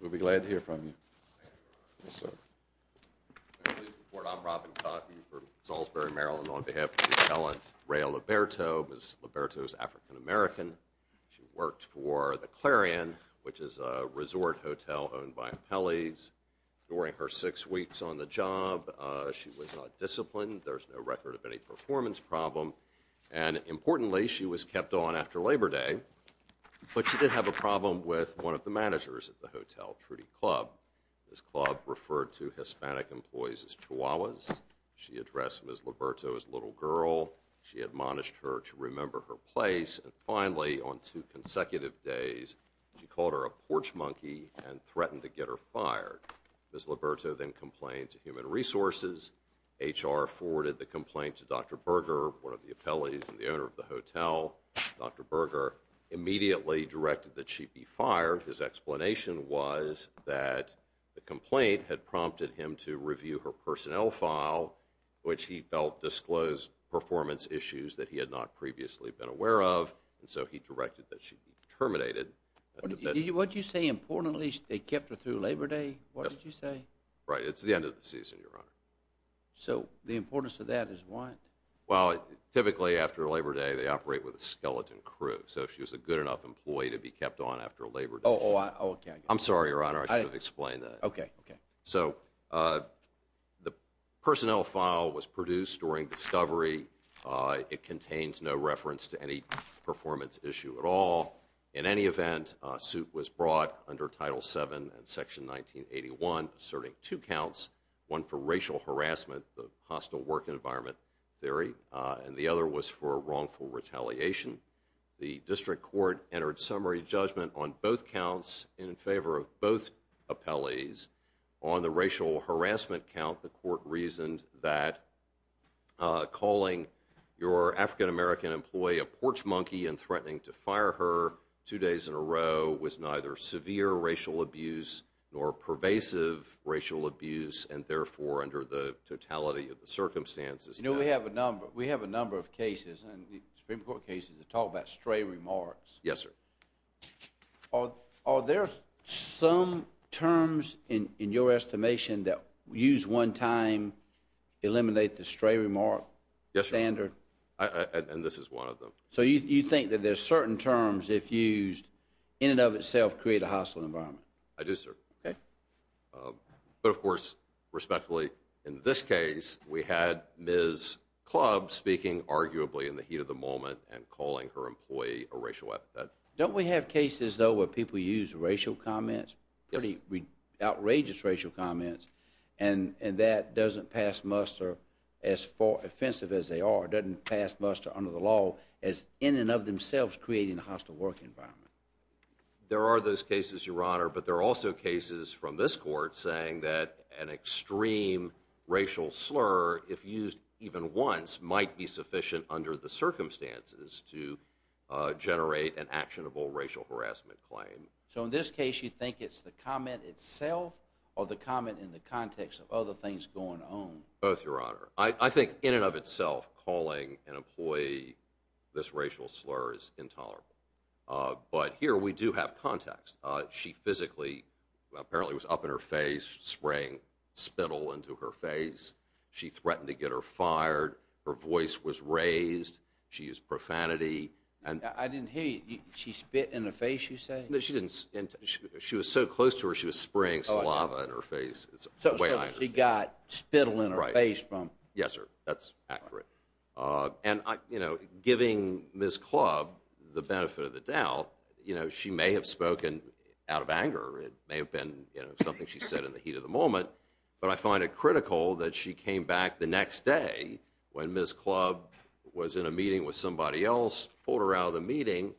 We'll be glad to hear from you. Thank you very much. Yes, sir. Can I please report? I'm Robin Cotten from Salisbury, Maryland, on behalf of the talent Reya Liberto. Ms. Liberto is African-American. She worked for the Clarion, which is a resort hotel owned by Impelli's. During her six weeks on the job, she was not disciplined. There's no record of any performance problem. And importantly, she was kept on after Labor Day, but she did have a problem with one of the managers at the hotel, Trudy Club. This club referred to Hispanic employees as chihuahuas. She addressed Ms. Liberto as little girl. She admonished her to remember her place. And finally, on two consecutive days, she called her a porch monkey and threatened to get her fired. Ms. Liberto then complained to Human Resources. HR forwarded the complaint to Dr. Berger, one of the impellis and the owner of the hotel. Dr. Berger immediately directed that she be fired. His explanation was that the complaint had prompted him to review her personnel file, which he felt disclosed performance issues that he had not previously been aware of. And so he directed that she be terminated. What did you say? Importantly, they kept her through Labor Day? Yes. What did you say? Right. It's the end of the season, Your Honor. So the importance of that is what? Well, typically after Labor Day, they operate with a skeleton crew. So if she was a good enough employee to be kept on after Labor Day. Oh, okay. I'm sorry, Your Honor. I didn't explain that. Okay. So the personnel file was produced during discovery. It contains no reference to any performance issue at all. In any event, a suit was brought under Title VII and Section 1981 asserting two counts, one for racial harassment, the hostile work environment theory, and the other was for wrongful retaliation. The district court entered summary judgment on both counts in favor of both appellees. On the racial harassment count, the court reasoned that calling your African American employee a porch monkey and threatening to fire her two days in a row was neither severe racial abuse nor pervasive racial abuse and, therefore, under the totality of the circumstances. You know, we have a number of cases, Supreme Court cases, that talk about stray remarks. Yes, sir. Are there some terms in your estimation that use one time, eliminate the stray remark standard? Yes, sir. And this is one of them. So you think that there's certain terms if used in and of itself create a hostile environment? I do, sir. Okay. But, of course, respectfully, in this case, we had Ms. Club speaking arguably in the heat of the moment and calling her employee a racial atheist. Don't we have cases, though, where people use racial comments, pretty outrageous racial comments, and that doesn't pass muster as offensive as they are, doesn't pass muster under the law as in and of themselves creating a hostile work environment? There are those cases, Your Honor. But there are also cases from this court saying that an extreme racial slur, if used even once, might be sufficient under the circumstances to generate an actionable racial harassment claim. So in this case, you think it's the comment itself or the comment in the context of other things going on? Both, Your Honor. I think in and of itself calling an employee this racial slur is intolerable. But here we do have context. She physically apparently was up in her face, spraying spittle into her face. She threatened to get her fired. Her voice was raised. She used profanity. I didn't hear you. She spit in her face, you say? She was so close to her, she was spraying saliva in her face. So she got spittle in her face from. Yes, sir. That's accurate. And, you know, giving Ms. Club the benefit of the doubt, you know, she may have spoken out of anger. It may have been something she said in the heat of the moment. But I find it critical that she came back the next day when Ms. Club was in a meeting with somebody else, pulled her out of the meeting,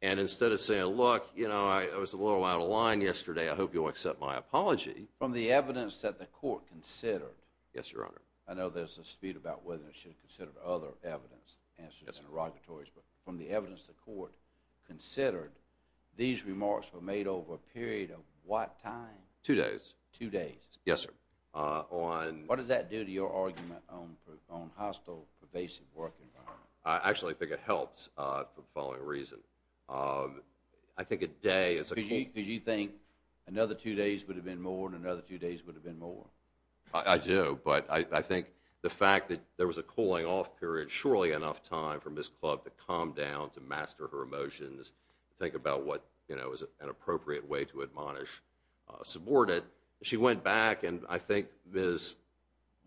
and instead of saying, look, you know, I was a little out of line yesterday. I hope you'll accept my apology. From the evidence that the court considered. Yes, Your Honor. I know there's a dispute about whether it should have considered other evidence, answers and interrogatories. But from the evidence the court considered, these remarks were made over a period of what time? Two days. Two days. Yes, sir. What does that do to your argument on hostile, pervasive work environment? I actually think it helps for the following reason. I think a day is a key. Because you think another two days would have been more and another two days would have been more. I do. But I think the fact that there was a cooling off period, surely enough time for Ms. Club to calm down, to master her emotions, think about what is an appropriate way to admonish a subordinate. She went back, and I think Ms.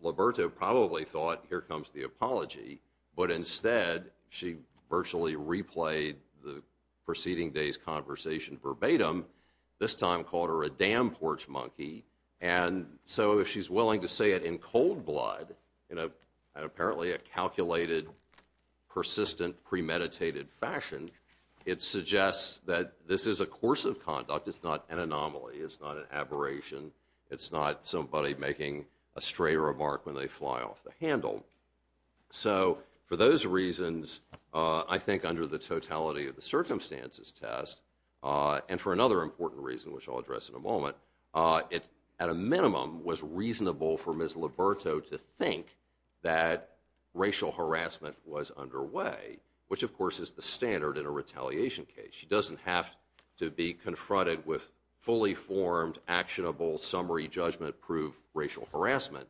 Liberto probably thought, here comes the apology. But instead, she virtually replayed the preceding day's conversation verbatim. This time called her a damn porch monkey. And so if she's willing to say it in cold blood, in apparently a calculated, persistent, premeditated fashion, it suggests that this is a course of conduct. It's not an anomaly. It's not an aberration. It's not somebody making a stray remark when they fly off the handle. So for those reasons, I think under the totality of the circumstances test, and for another important reason, which I'll address in a moment, it, at a minimum, was reasonable for Ms. Liberto to think that racial harassment was underway, which, of course, is the standard in a retaliation case. She doesn't have to be confronted with fully formed, actionable, summary judgment proof racial harassment.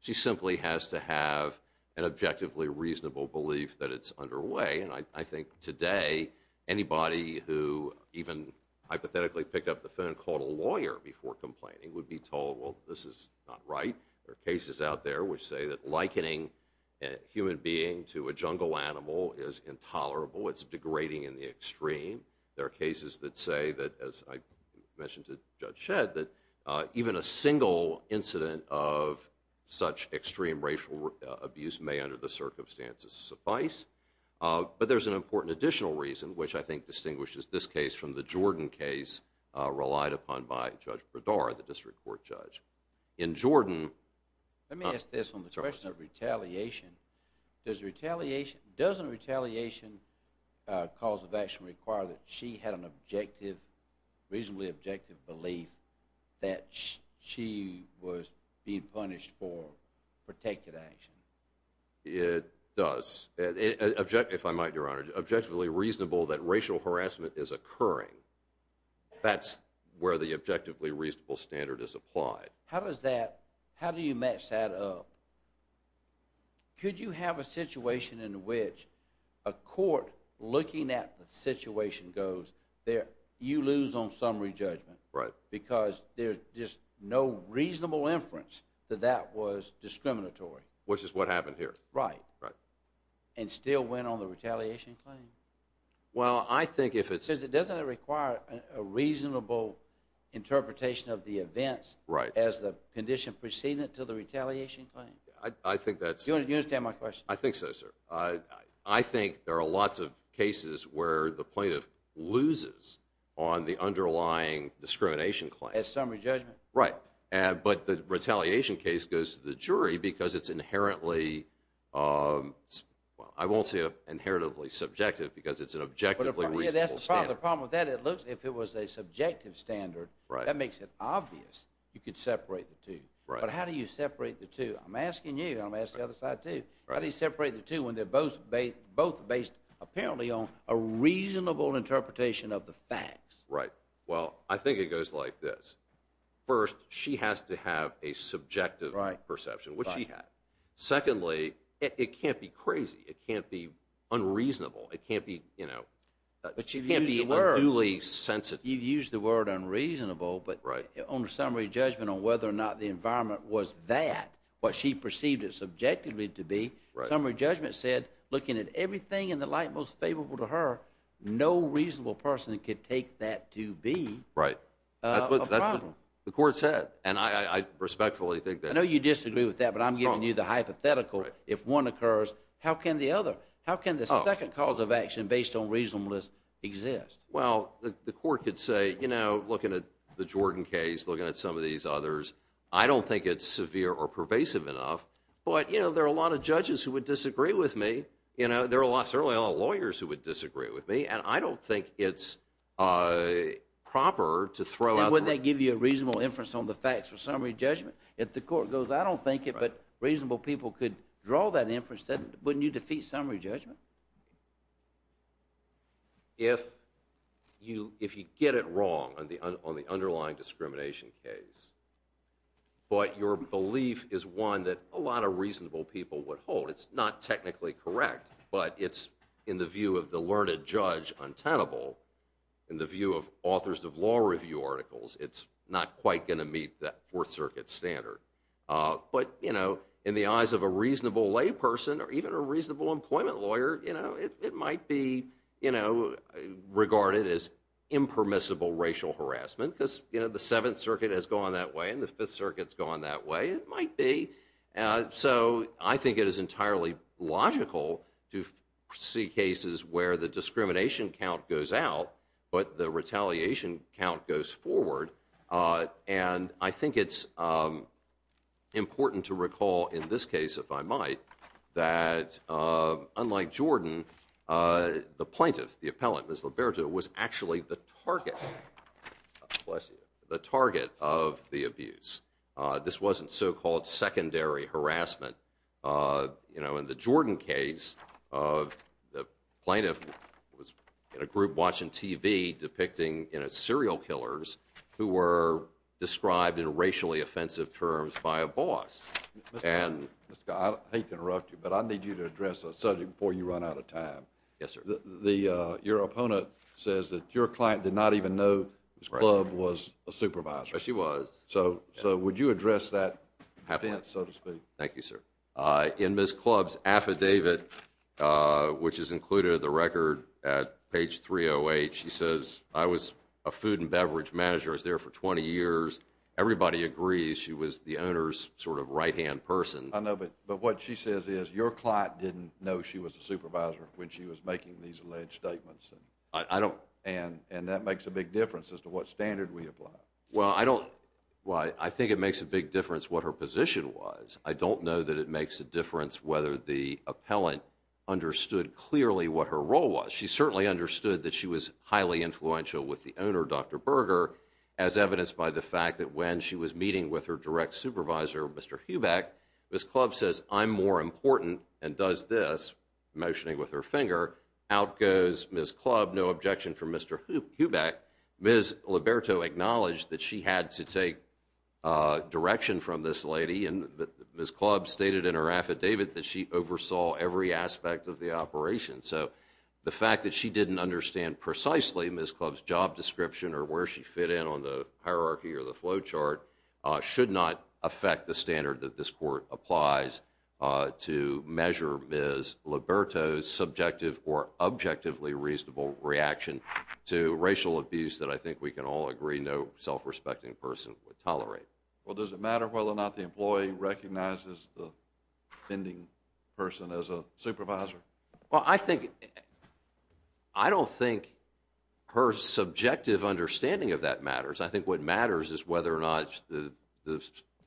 She simply has to have an objectively reasonable belief that it's underway. And I think today, anybody who even hypothetically picked up the phone and called a lawyer before complaining would be told, well, this is not right. There are cases out there which say that likening a human being to a jungle animal is intolerable. It's degrading in the extreme. There are cases that say that, as I mentioned to Judge Shedd, that even a single incident of such extreme racial abuse may, under the circumstances, suffice. But there's an important additional reason, which I think distinguishes this case from the Jordan case relied upon by Judge Bredar, the district court judge. In Jordan- Let me ask this on the question of retaliation. Doesn't retaliation cause of action require that she had an objective, reasonably objective belief that she was being punished for protected action? It does. If I might, Your Honor, objectively reasonable that racial harassment is occurring, that's where the objectively reasonable standard is applied. How do you match that up? Could you have a situation in which a court looking at the situation goes, you lose on summary judgment because there's just no reasonable inference that that was discriminatory? Which is what happened here. Right. Right. And still went on the retaliation claim. Well, I think if it's- Doesn't it require a reasonable interpretation of the events as the condition preceding it to the retaliation claim? I think that's- Do you understand my question? I think so, sir. I think there are lots of cases where the plaintiff loses on the underlying discrimination claim. As summary judgment. Right. But the retaliation case goes to the jury because it's inherently- If it was a subjective standard, that makes it obvious you could separate the two. But how do you separate the two? I'm asking you. I'm asking the other side, too. How do you separate the two when they're both based apparently on a reasonable interpretation of the facts? Right. Well, I think it goes like this. First, she has to have a subjective perception, which she had. Secondly, it can't be crazy. It can't be unreasonable. It can't be- But you've used the word- It can't be unduly sensitive. You've used the word unreasonable. Right. But on summary judgment on whether or not the environment was that, what she perceived it subjectively to be- Right. Summary judgment said, looking at everything in the light most favorable to her, no reasonable person could take that to be- Right. A problem. That's what the court said, and I respectfully think that- I know you disagree with that, but I'm giving you the hypothetical. Right. How can the second cause of action based on reasonableness exist? Well, the court could say, looking at the Jordan case, looking at some of these others, I don't think it's severe or pervasive enough, but there are a lot of judges who would disagree with me. There are certainly a lot of lawyers who would disagree with me, and I don't think it's proper to throw out- And wouldn't that give you a reasonable inference on the facts for summary judgment? If the court goes, I don't think it, but reasonable people could draw that inference, wouldn't you defeat summary judgment? If you get it wrong on the underlying discrimination case, but your belief is one that a lot of reasonable people would hold, it's not technically correct, but it's, in the view of the learned judge, untenable. In the view of authors of law review articles, it's not quite going to meet that Fourth Circuit standard. But, you know, in the eyes of a reasonable layperson, or even a reasonable employment lawyer, it might be regarded as impermissible racial harassment, because the Seventh Circuit has gone that way, and the Fifth Circuit's gone that way. It might be. So, I think it is entirely logical to see cases where the discrimination count goes out, but the retaliation count goes forward. And I think it's important to recall, in this case, if I might, that, unlike Jordan, the plaintiff, the appellant, Ms. Liberto, was actually the target of the abuse. This wasn't so-called secondary harassment. You know, in the Jordan case, the plaintiff was in a group watching TV depicting serial killers who were described in racially offensive terms by a boss. Mr. Scott, I hate to interrupt you, but I need you to address a subject before you run out of time. Yes, sir. Your opponent says that your client did not even know Ms. Clubb was a supervisor. Yes, she was. So, would you address that offense, so to speak? Thank you, sir. In Ms. Clubb's affidavit, which is included in the record at page 308, she says, I was a food and beverage manager. I was there for 20 years. Everybody agrees she was the owner's sort of right-hand person. I know, but what she says is your client didn't know she was a supervisor when she was making these alleged statements. I don't… And that makes a big difference as to what standard we apply. Well, I don't… Well, I think it makes a big difference what her position was. I don't know that it makes a difference whether the appellant understood clearly what her role was. She certainly understood that she was highly influential with the owner, Dr. Berger, as evidenced by the fact that when she was meeting with her direct supervisor, Mr. Hubeck, Ms. Clubb says, I'm more important, and does this, motioning with her finger. Out goes Ms. Clubb. No objection from Mr. Hubeck. Ms. Liberto acknowledged that she had to take direction from this lady, and Ms. Clubb stated in her affidavit that she oversaw every aspect of the operation. So the fact that she didn't understand precisely Ms. Clubb's job description or where she fit in on the hierarchy or the flow chart should not affect the standard that this court applies to measure Ms. Liberto's subjective or objectively reasonable reaction to racial abuse that I think we can all agree no self-respecting person would tolerate. Well, does it matter whether or not the employee recognizes the offending person as a supervisor? Well, I think… I don't think her subjective understanding of that matters. I think what matters is whether or not the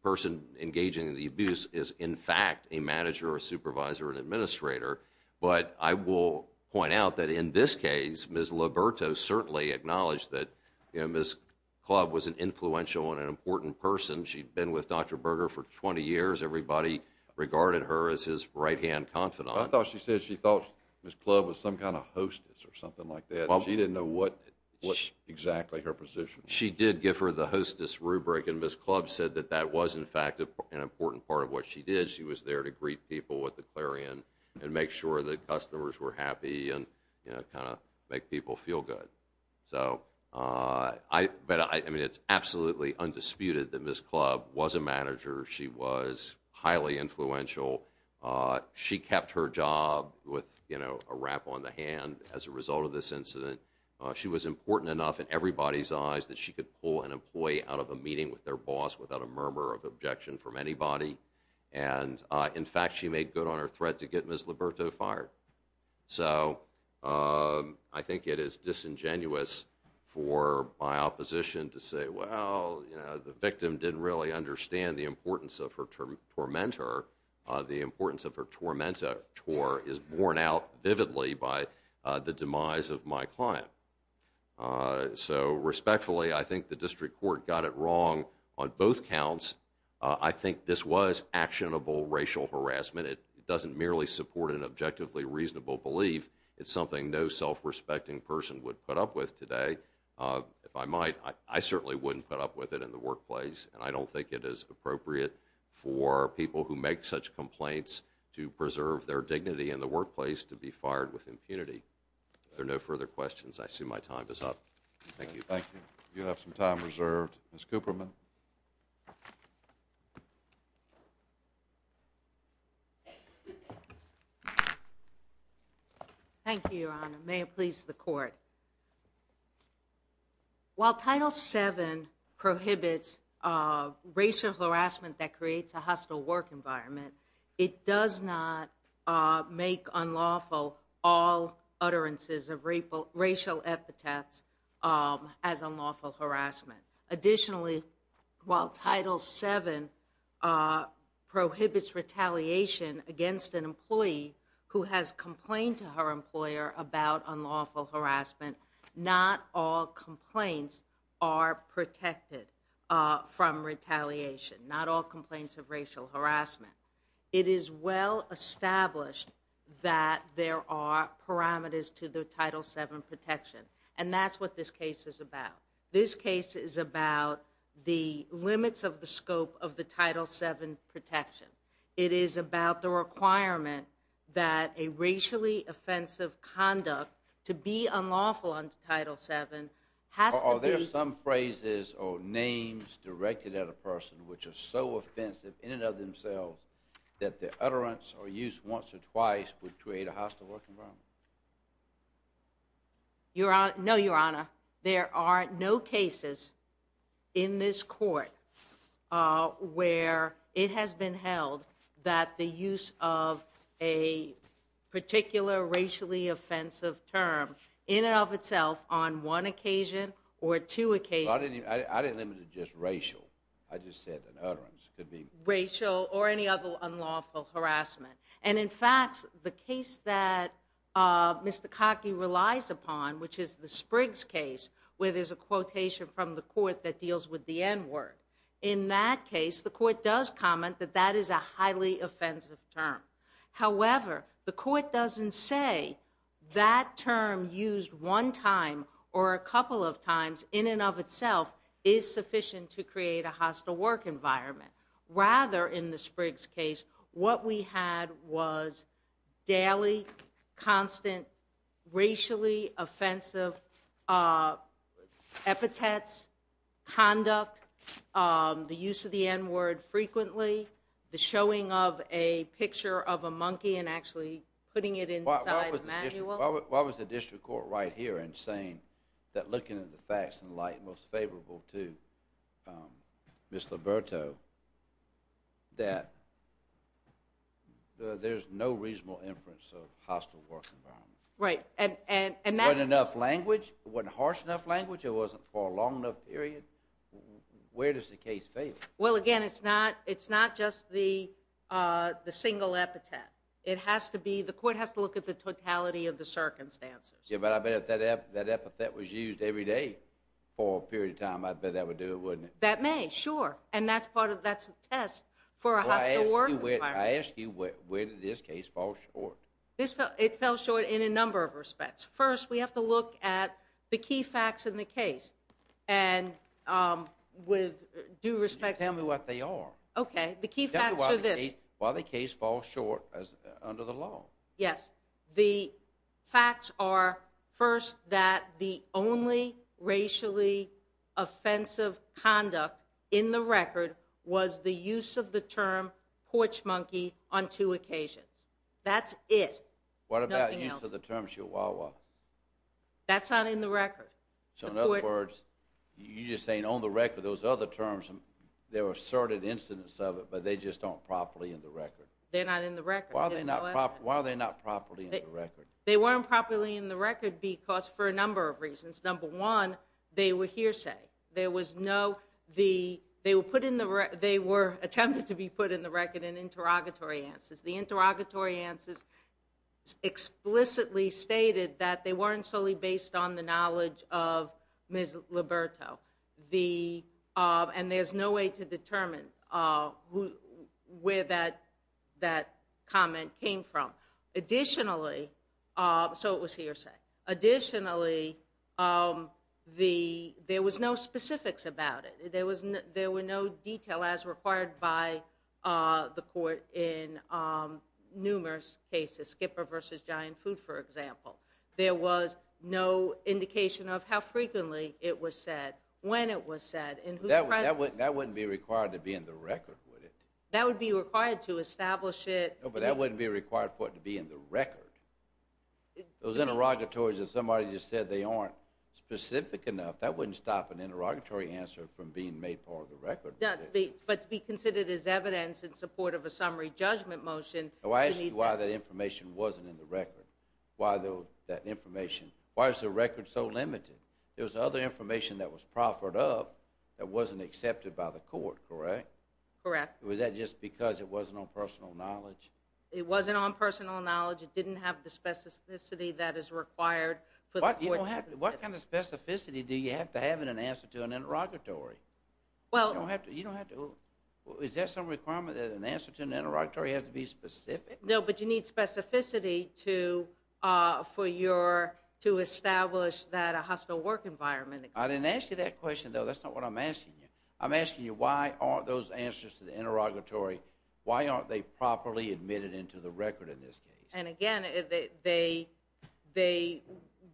person engaging in the abuse is, in fact, a manager, a supervisor, an administrator. But I will point out that in this case, Ms. Liberto certainly acknowledged that Ms. Clubb was an influential and an important person. She'd been with Dr. Berger for 20 years. Everybody regarded her as his right-hand confidant. I thought she said she thought Ms. Clubb was some kind of hostess or something like that. She didn't know what exactly her position was. She did give her the hostess rubric, and Ms. Clubb said that that was, in fact, an important part of what she did. She was there to greet people with the clarion and make sure that customers were happy and kind of make people feel good. But it's absolutely undisputed that Ms. Clubb was a manager. She was highly influential. She kept her job with a wrap on the hand as a result of this incident. She was important enough in everybody's eyes that she could pull an employee out of a meeting with their boss without a murmur of objection from anybody. And, in fact, she made good on her threat to get Ms. Liberto fired. So I think it is disingenuous for my opposition to say, well, the victim didn't really understand the importance of her tormentor. The importance of her tormentor is borne out vividly by the demise of my client. So, respectfully, I think the district court got it wrong on both counts. I think this was actionable racial harassment. It doesn't merely support an objectively reasonable belief. It's something no self-respecting person would put up with today. If I might, I certainly wouldn't put up with it in the workplace, and I don't think it is appropriate for people who make such complaints to preserve their dignity in the workplace to be fired with impunity. If there are no further questions, I assume my time is up. Thank you. Thank you. You have some time reserved. Ms. Cooperman. Thank you, Your Honor. May it please the court. While Title VII prohibits racial harassment that creates a hostile work environment, it does not make unlawful all utterances of racial epithets as unlawful harassment. Additionally, while Title VII prohibits retaliation against an employee who has complained to her employer about unlawful harassment, not all complaints are protected from retaliation, not all complaints of racial harassment. It is well established that there are parameters to the Title VII protection, and that's what this case is about. This case is about the limits of the scope of the Title VII protection. It is about the requirement that a racially offensive conduct to be unlawful under Title VII has to be... Are there some phrases or names directed at a person which are so offensive in and of themselves that the utterance or use once or twice would create a hostile work environment? No, Your Honor. There are no cases in this court where it has been held that the use of a particular racially offensive term in and of itself on one occasion or two occasions... I didn't limit it to just racial. I just said an utterance could be... Racial or any other unlawful harassment. And, in fact, the case that Mr. Cockey relies upon, which is the Spriggs case, where there's a quotation from the court that deals with the N-word, in that case the court does comment that that is a highly offensive term. However, the court doesn't say that term used one time or a couple of times in and of itself is sufficient to create a hostile work environment. Rather, in the Spriggs case, what we had was daily, constant, racially offensive epithets, conduct, the use of the N-word frequently, the showing of a picture of a monkey and actually putting it inside a manual. Looking at the facts in light most favorable to Ms. Liberto, that there's no reasonable inference of hostile work environment. Right. Wasn't enough language? Wasn't harsh enough language? It wasn't for a long enough period? Where does the case fail? Well, again, it's not just the single epithet. The court has to look at the totality of the circumstances. Yeah, but I bet if that epithet was used every day for a period of time, I bet that would do it, wouldn't it? That may, sure. And that's a test for a hostile work environment. I ask you, where did this case fall short? It fell short in a number of respects. First, we have to look at the key facts in the case and with due respect. Tell me what they are. Okay. The key facts are this. Tell me why the case falls short under the law. Yes. The facts are, first, that the only racially offensive conduct in the record was the use of the term porch monkey on two occasions. That's it. What about the use of the term chihuahua? That's not in the record. So, in other words, you're just saying on the record, those other terms, there were certain incidents of it, but they just aren't properly in the record. They're not in the record. Why are they not properly in the record? They weren't properly in the record because for a number of reasons. Number one, they were hearsay. They were attempted to be put in the record in interrogatory answers. The interrogatory answers explicitly stated that they weren't solely based on the knowledge of Ms. Liberto, and there's no way to determine where that comment came from. Additionally, so it was hearsay. Additionally, there was no specifics about it. There were no detail as required by the court in numerous cases, Skipper v. Giant Food, for example. There was no indication of how frequently it was said, when it was said, and whose presence. That wouldn't be required to be in the record, would it? That would be required to establish it. No, but that wouldn't be required for it to be in the record. Those interrogatories that somebody just said they aren't specific enough, that wouldn't stop an interrogatory answer from being made part of the record. But to be considered as evidence in support of a summary judgment motion. I asked you why that information wasn't in the record. Why that information? Why is the record so limited? There was other information that was proffered up that wasn't accepted by the court, correct? Correct. Was that just because it wasn't on personal knowledge? It wasn't on personal knowledge. It didn't have the specificity that is required. What kind of specificity do you have to have in an answer to an interrogatory? Is there some requirement that an answer to an interrogatory has to be specific? No, but you need specificity to establish that a hostile work environment exists. I didn't ask you that question, though. That's not what I'm asking you. I'm asking you why aren't those answers to the interrogatory, why aren't they properly admitted into the record in this case? And again, they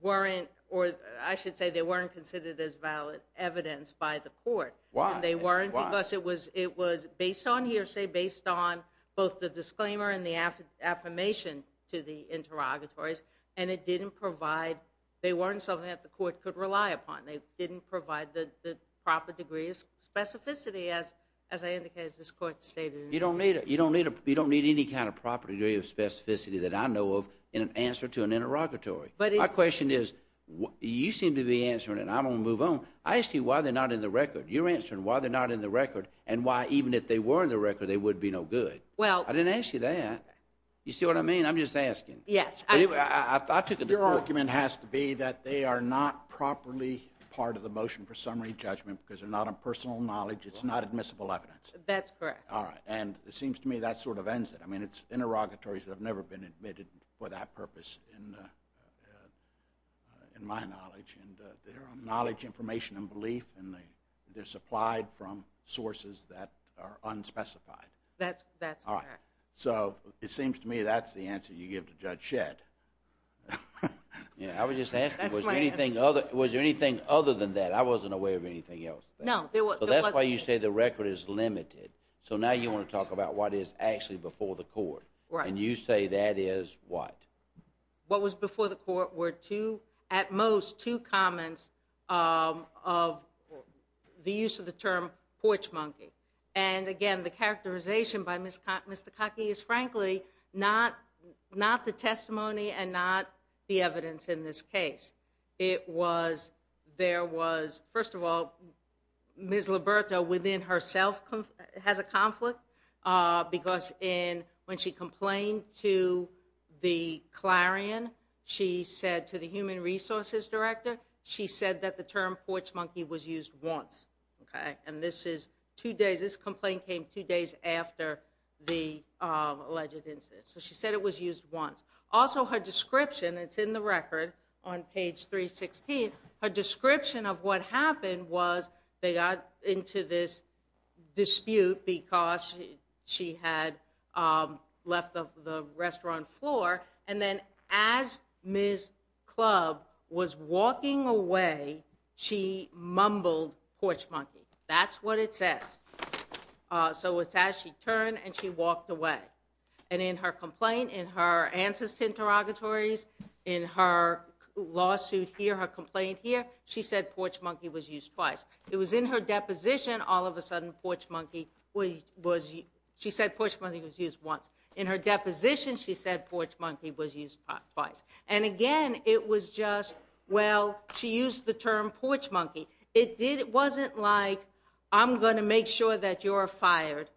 weren't, or I should say, they weren't considered as valid evidence by the court. Why? They weren't because it was based on hearsay, based on both the disclaimer and the affirmation to the interrogatories, and they weren't something that the court could rely upon. They didn't provide the proper degree of specificity, as I indicated, as this court stated. You don't need any kind of proper degree of specificity that I know of in an answer to an interrogatory. My question is, you seem to be answering it and I don't want to move on. I asked you why they're not in the record. You're answering why they're not in the record and why even if they were in the record they would be no good. I didn't ask you that. You see what I mean? I'm just asking. Your argument has to be that they are not properly part of the motion for summary judgment because they're not a personal knowledge, it's not admissible evidence. That's correct. It seems to me that sort of ends it. It's interrogatories that have never been admitted for that purpose in my knowledge. They're knowledge, information, and belief, and they're supplied from sources that are unspecified. That's correct. It seems to me that's the answer you give to Judge Shedd. I was just asking, was there anything other than that? I wasn't aware of anything else. That's why you say the record is limited. Now you want to talk about what is actually before the court. You say that is what? What was before the court were at most two comments of the use of the term porch monkey. Again, the characterization by Ms. Takaki is frankly not the testimony and not the evidence in this case. First of all, Ms. Liberto within herself has a conflict because when she complained to the clarion, she said to the human resources director, she said that the term porch monkey was used once. This complaint came two days after the alleged incident. So she said it was used once. Also her description, it's in the record on page 316, her description of what happened was they got into this dispute because she had left the restaurant floor. And then as Ms. Clubb was walking away, she mumbled porch monkey. That's what it says. So it's as she turned and she walked away. And in her complaint, in her answers to interrogatories, in her lawsuit here, her complaint here, she said porch monkey was used twice. It was in her deposition all of a sudden porch monkey was used. She said porch monkey was used once. In her deposition, she said porch monkey was used twice. And again, it was just, well, she used the term porch monkey. It wasn't like I'm going to make sure that you're fired.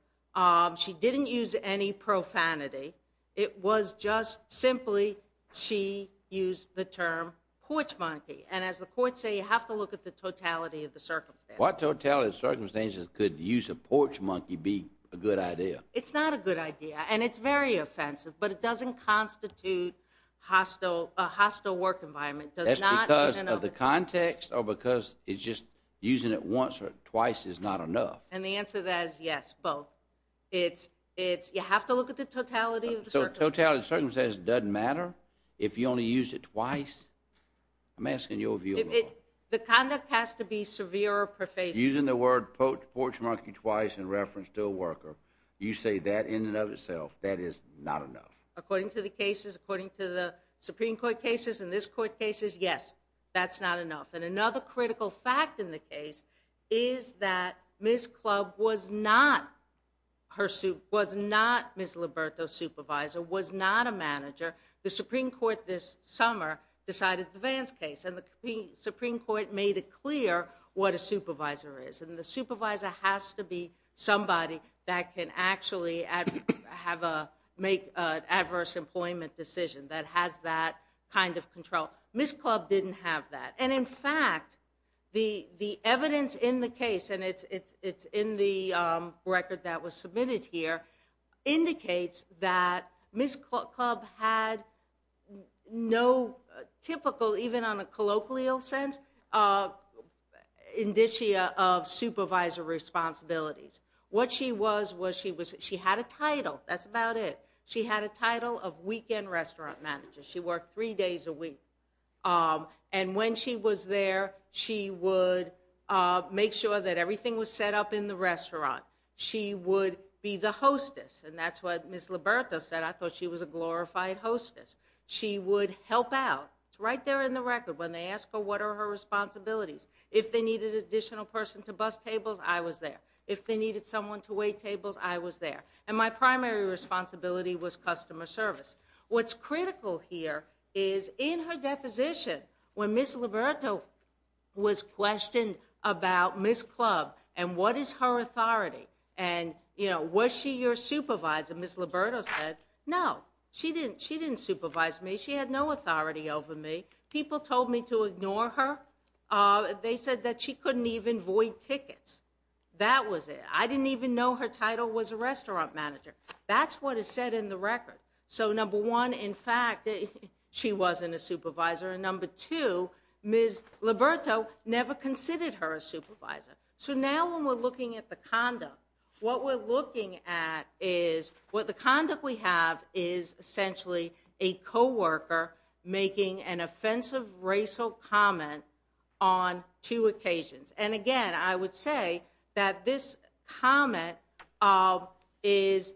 She didn't use any profanity. It was just simply she used the term porch monkey. And as the courts say, you have to look at the totality of the circumstances. What totality of circumstances could use a porch monkey be a good idea? It's not a good idea. And it's very offensive. But it doesn't constitute a hostile work environment. That's because of the context or because it's just using it once or twice is not enough. And the answer to that is yes, both. It's you have to look at the totality of the circumstances. So totality of circumstances doesn't matter if you only used it twice? I'm asking your view of the law. The conduct has to be severe or profane. Using the word porch monkey twice in reference to a worker, you say that in and of itself, that is not enough. According to the cases, according to the Supreme Court cases and this court cases, yes, that's not enough. And another critical fact in the case is that Ms. Club was not Ms. Liberto's supervisor, was not a manager. The Supreme Court this summer decided the Vance case. And the Supreme Court made it clear what a supervisor is. And the supervisor has to be somebody that can actually have a make adverse employment decision that has that kind of control. Ms. Club didn't have that. And in fact, the evidence in the case, and it's in the record that was submitted here, indicates that Ms. Club had no typical, even on a colloquial sense, indicia of supervisor responsibilities. What she was, she had a title. That's about it. She had a title of weekend restaurant manager. She worked three days a week. And when she was there, she would make sure that everything was set up in the restaurant. She would be the hostess. And that's what Ms. Liberto said. I thought she was a glorified hostess. She would help out. It's right there in the record. When they ask her what are her responsibilities, if they needed an additional person to bus tables, I was there. If they needed someone to wait tables, I was there. And my primary responsibility was customer service. What's critical here is in her deposition, when Ms. Liberto was questioned about Ms. Club and what is her authority, and was she your supervisor, Ms. Liberto said, no, she didn't supervise me. She had no authority over me. People told me to ignore her. They said that she couldn't even void tickets. That was it. I didn't even know her title was a restaurant manager. That's what is said in the record. So number one, in fact, she wasn't a supervisor. And number two, Ms. Liberto never considered her a supervisor. So now when we're looking at the conduct, what we're looking at is what the conduct we have is essentially a co-worker making an offensive racial comment on two occasions. And again, I would say that this comment is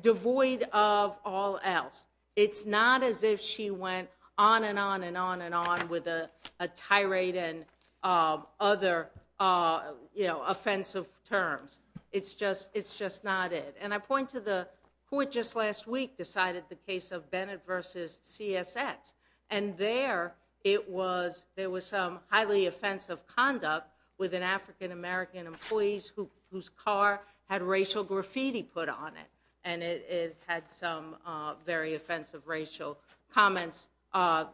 devoid of all else. It's not as if she went on and on and on and on with a tirade and other offensive terms. It's just not it. And I point to the court just last week decided the case of Bennett versus CSX. And there it was, there was some highly offensive conduct with an African-American employees whose car had racial graffiti put on it. And it had some very offensive racial comments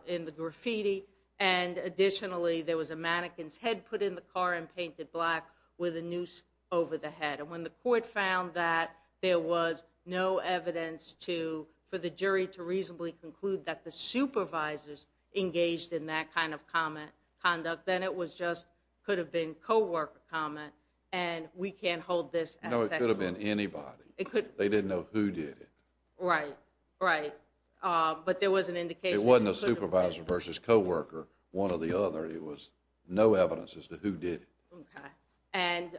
in the graffiti. And additionally, there was a mannequin's head put in the car and painted black with a noose over the head. And when the court found that there was no evidence for the jury to reasonably conclude that the supervisors engaged in that kind of conduct, then it was just could have been co-worker comment and we can't hold this. No, it could have been anybody. They didn't know who did it. Right, right. But there was an indication. It wasn't a supervisor versus co-worker, one or the other. It was no evidence as to who did it. And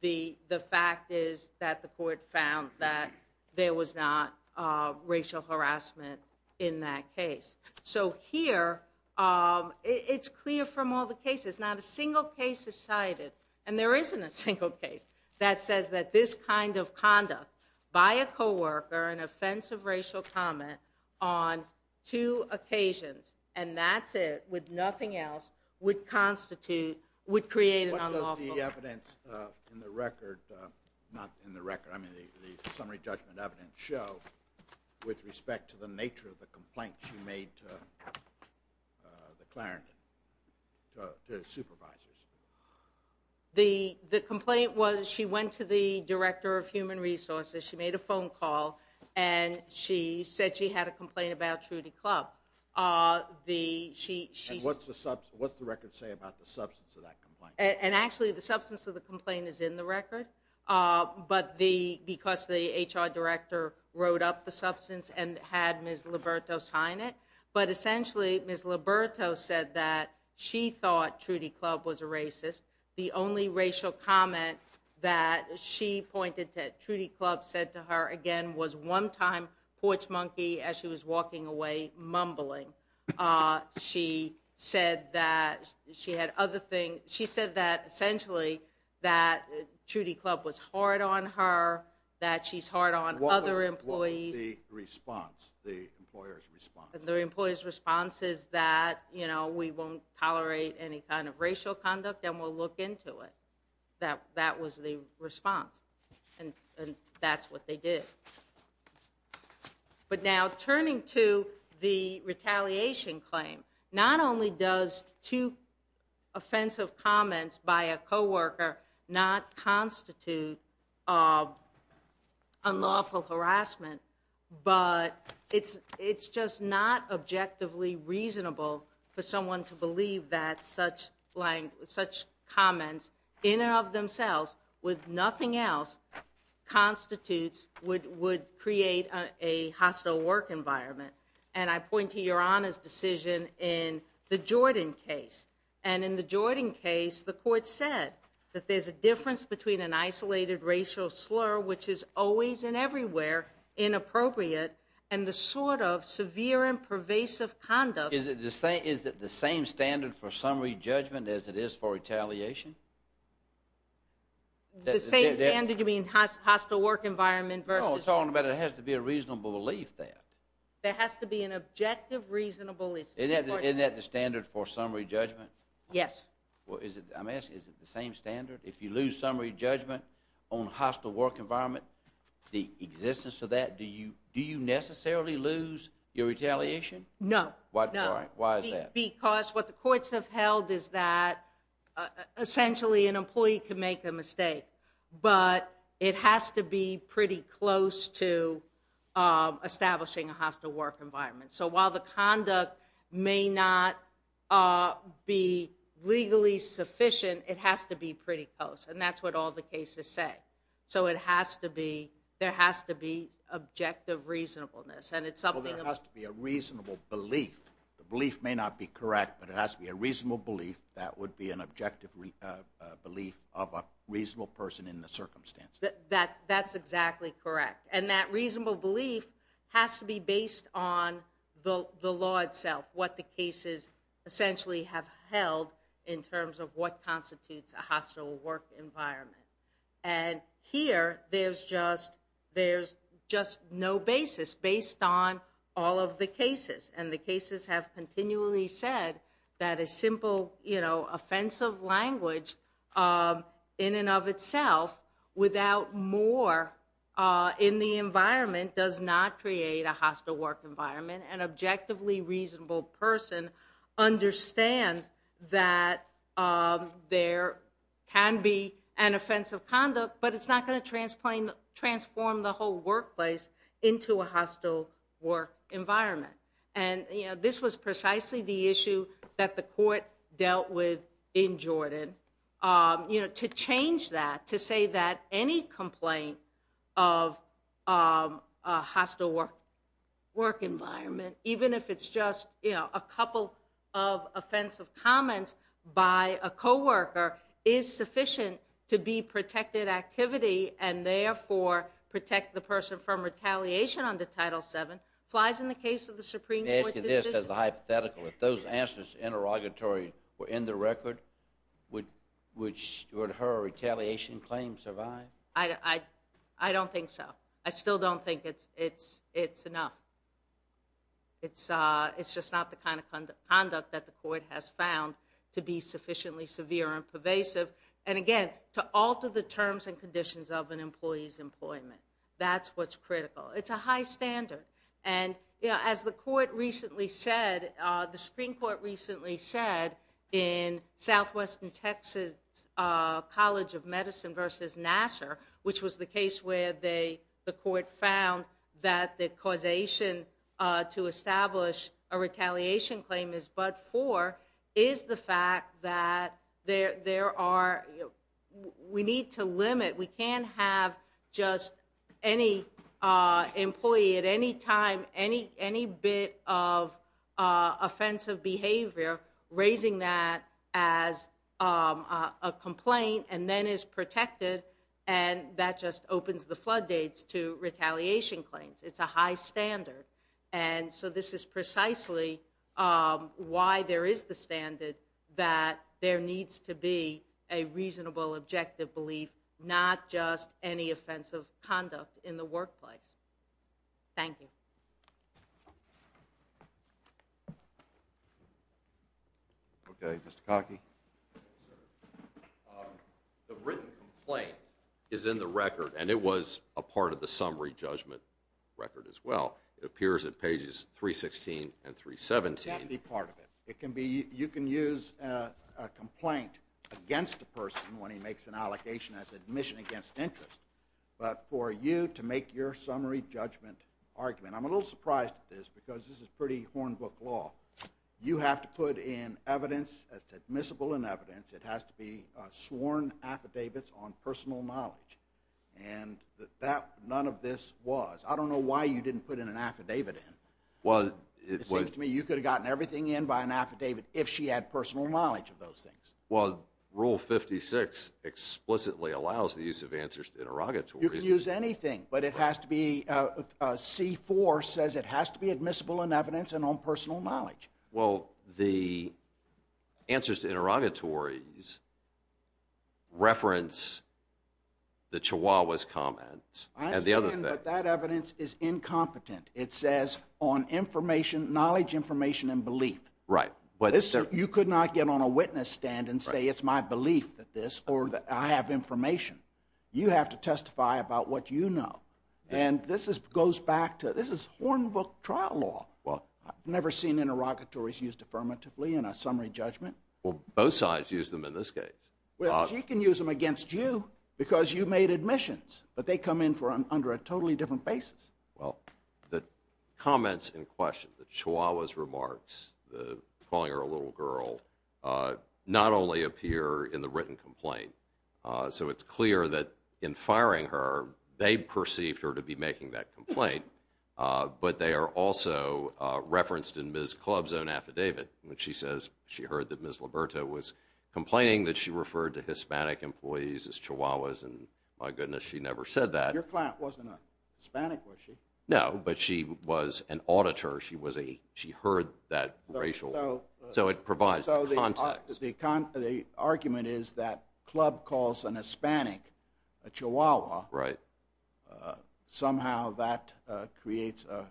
the fact is that the court found that there was not racial harassment in that case. So here, it's clear from all the cases. Not a single case is cited, and there isn't a single case that says that this kind of conduct by a co-worker, an offensive racial comment on two occasions, and that's it, with nothing else, would constitute, would create an unlawful- What does the evidence in the record, not in the record, I mean the summary judgment evidence, show with respect to the nature of the complaint she made to the Clarendon, to the supervisors? The complaint was she went to the Director of Human Resources. She made a phone call, and she said she had a complaint about Trudy Club. What's the record say about the substance of that complaint? And actually, the substance of the complaint is in the record, but because the HR Director wrote up the substance and had Ms. Liberto sign it. But essentially, Ms. Liberto said that she thought Trudy Club was a racist. The only racial comment that she pointed to that Trudy Club said to her, again, was one time, Porch Monkey, as she was walking away, mumbling. She said that she had other things. She said that, essentially, that Trudy Club was hard on her, that she's hard on other employees. What was the response, the employer's response? The employer's response is that, you know, we won't tolerate any kind of racial conduct, and we'll look into it. That was the response, and that's what they did. But now, turning to the retaliation claim, not only does two offensive comments by a coworker not constitute unlawful harassment, but it's just not objectively reasonable for someone to believe that such comments, in and of themselves, with nothing else, constitutes, would create a hostile work environment. And I point to Your Honor's decision in the Jordan case. And in the Jordan case, the court said that there's a difference between an isolated racial slur, which is always and everywhere inappropriate, and the sort of severe and pervasive conduct. Is it the same standard for summary judgment as it is for retaliation? The same standard, you mean hostile work environment versus? No, I'm talking about there has to be a reasonable belief there. There has to be an objective, reasonable. Isn't that the standard for summary judgment? Yes. Well, I'm asking, is it the same standard? If you lose summary judgment on hostile work environment, the existence of that, do you necessarily lose your retaliation? No. Why is that? Because what the courts have held is that essentially an employee can make a mistake, but it has to be pretty close to establishing a hostile work environment. So while the conduct may not be legally sufficient, it has to be pretty close. And that's what all the cases say. So it has to be, there has to be objective reasonableness. Well, there has to be a reasonable belief. The belief may not be correct, but it has to be a reasonable belief. That would be an objective belief of a reasonable person in the circumstance. That's exactly correct. And that reasonable belief has to be based on the law itself, what the cases essentially have held in terms of what constitutes a hostile work environment. And here, there's just no basis based on all of the cases. And the cases have continually said that a simple, you know, offensive language in and of itself without more in the environment does not create a hostile work environment. An objectively reasonable person understands that there can be an offensive conduct, but it's not going to transform the whole workplace into a hostile work environment. And, you know, this was precisely the issue that the court dealt with in Jordan. You know, to change that, to say that any complaint of a hostile work environment, even if it's just, you know, a couple of offensive comments by a co-worker, is sufficient to be protected activity and therefore protect the person from retaliation under Title VII, flies in the case of the Supreme Court decision. Let me ask you this as a hypothetical. If those answers interrogatory were in the record, would her retaliation claim survive? I don't think so. I still don't think it's enough. It's just not the kind of conduct that the court has found to be sufficiently severe and pervasive. And again, to alter the terms and conditions of an employee's employment, that's what's critical. It's a high standard. And, you know, as the court recently said, the Supreme Court recently said, in Southwestern Texas College of Medicine v. Nassar, which was the case where the court found that the causation to establish a retaliation claim is but for, is the fact that there are, we need to limit, we can't have just any employee at any time, any bit of offensive behavior raising that as a complaint and then is protected, and that just opens the floodgates to retaliation claims. It's a high standard. And so this is precisely why there is the standard that there needs to be a reasonable, objective belief, not just any offensive conduct in the workplace. Thank you. Okay, Mr. Cockey. The written complaint is in the record, and it was a part of the summary judgment record as well. It appears at pages 316 and 317. It can't be part of it. It can be, you can use a complaint against a person when he makes an allocation as admission against interest, but for you to make your summary judgment argument, I'm a little surprised at this, because this is pretty hornbook law. You have to put in evidence that's admissible in evidence. It has to be sworn affidavits on personal knowledge, and none of this was. I don't know why you didn't put in an affidavit in. It seems to me you could have gotten everything in by an affidavit if she had personal knowledge of those things. Well, Rule 56 explicitly allows the use of answers to interrogatories. You can use anything, but it has to be, C-4 says it has to be admissible in evidence and on personal knowledge. Well, the answers to interrogatories reference the Chihuahua's comments. I understand, but that evidence is incompetent. It says on information, knowledge, information, and belief. Right. You could not get on a witness stand and say it's my belief that this or that I have information. You have to testify about what you know, and this goes back to, this is hornbook trial law. Well. I've never seen interrogatories used affirmatively in a summary judgment. Well, both sides use them in this case. Well, she can use them against you because you made admissions, but they come in under a totally different basis. Well, the comments in question, the Chihuahua's remarks, calling her a little girl, not only appear in the written complaint. So it's clear that in firing her, they perceived her to be making that complaint, but they are also referenced in Ms. Club's own affidavit. When she says she heard that Ms. Liberto was complaining that she referred to Hispanic employees as Chihuahuas, and my goodness, she never said that. Your client wasn't a Hispanic, was she? No, but she was an auditor. She was a, she heard that racial, so it provides context. So the argument is that Club calls an Hispanic a Chihuahua. Right. Somehow that creates a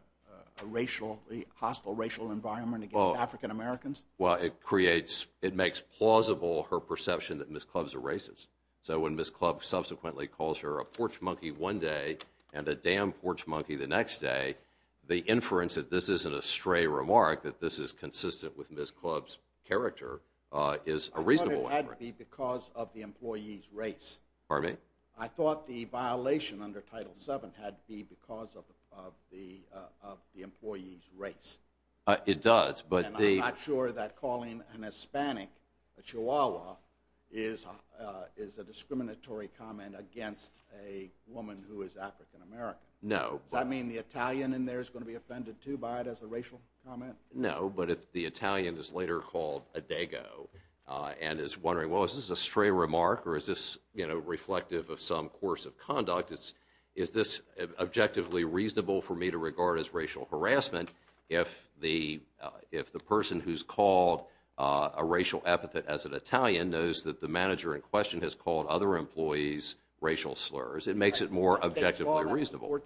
hostile racial environment against African Americans? Well, it creates, it makes plausible her perception that Ms. Club's a racist. So when Ms. Club subsequently calls her a porch monkey one day and a damn porch monkey the next day, the inference that this isn't a stray remark, that this is consistent with Ms. Club's character, is a reasonable inference. I thought it had to be because of the employee's race. Pardon me? I thought the violation under Title VII had to be because of the employee's race. It does. And I'm not sure that calling an Hispanic a Chihuahua is a discriminatory comment against a woman who is African American. No. Does that mean the Italian in there is going to be offended, too, by it as a racial comment? No, but if the Italian is later called a Dago and is wondering, well, is this a stray remark, or is this, you know, reflective of some course of conduct, is this objectively reasonable for me to regard as racial harassment if the person who's called a racial epithet as an Italian knows that the manager in question has called other employees racial slurs? It makes it more objectively reasonable.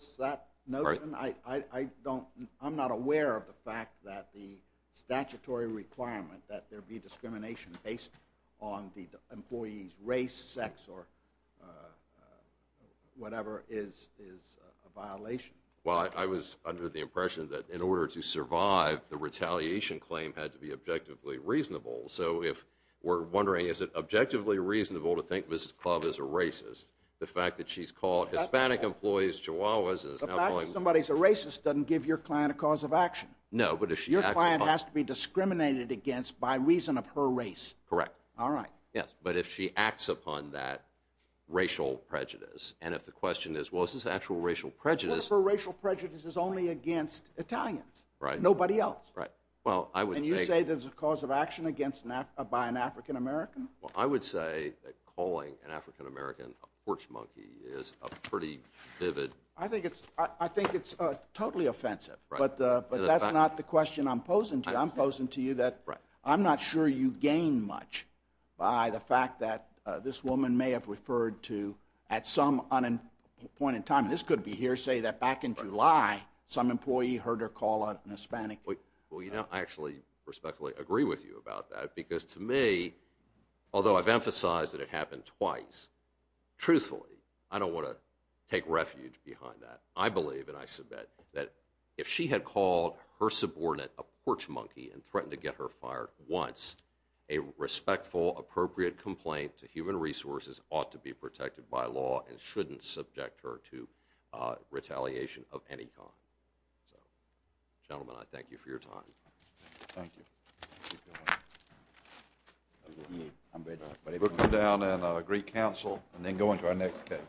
I'm not aware of the fact that the statutory requirement that there be discrimination based on the employee's race, sex, or whatever is a violation. Well, I was under the impression that in order to survive, the retaliation claim had to be objectively reasonable. So if we're wondering, is it objectively reasonable to think Ms. Club is a racist, the fact that she's called Hispanic employees Chihuahuas is now calling... The fact that somebody's a racist doesn't give your client a cause of action. No, but if she acts upon... Your client has to be discriminated against by reason of her race. Correct. All right. Yes, but if she acts upon that racial prejudice, and if the question is, well, is this actual racial prejudice... What if her racial prejudice is only against Italians? Right. Nobody else? Right. Well, I would say... And you say there's a cause of action by an African American? Well, I would say that calling an African American a porch monkey is a pretty vivid... I think it's totally offensive. Right. But that's not the question I'm posing to you. I'm posing to you that I'm not sure you gain much by the fact that this woman may have referred to, at some point in time, and this could be hearsay, that back in July, some employee heard her call out an Hispanic... Well, you know, I actually respectfully agree with you about that, because to me, although I've emphasized that it happened twice, truthfully, I don't want to take refuge behind that. I believe, and I submit, that if she had called her subordinate a porch monkey and threatened to get her fired once, a respectful, appropriate complaint to human resources ought to be protected by law and shouldn't subject her to retaliation of any kind. Gentlemen, I thank you for your time. Thank you. We'll come down and agree counsel and then go into our next case.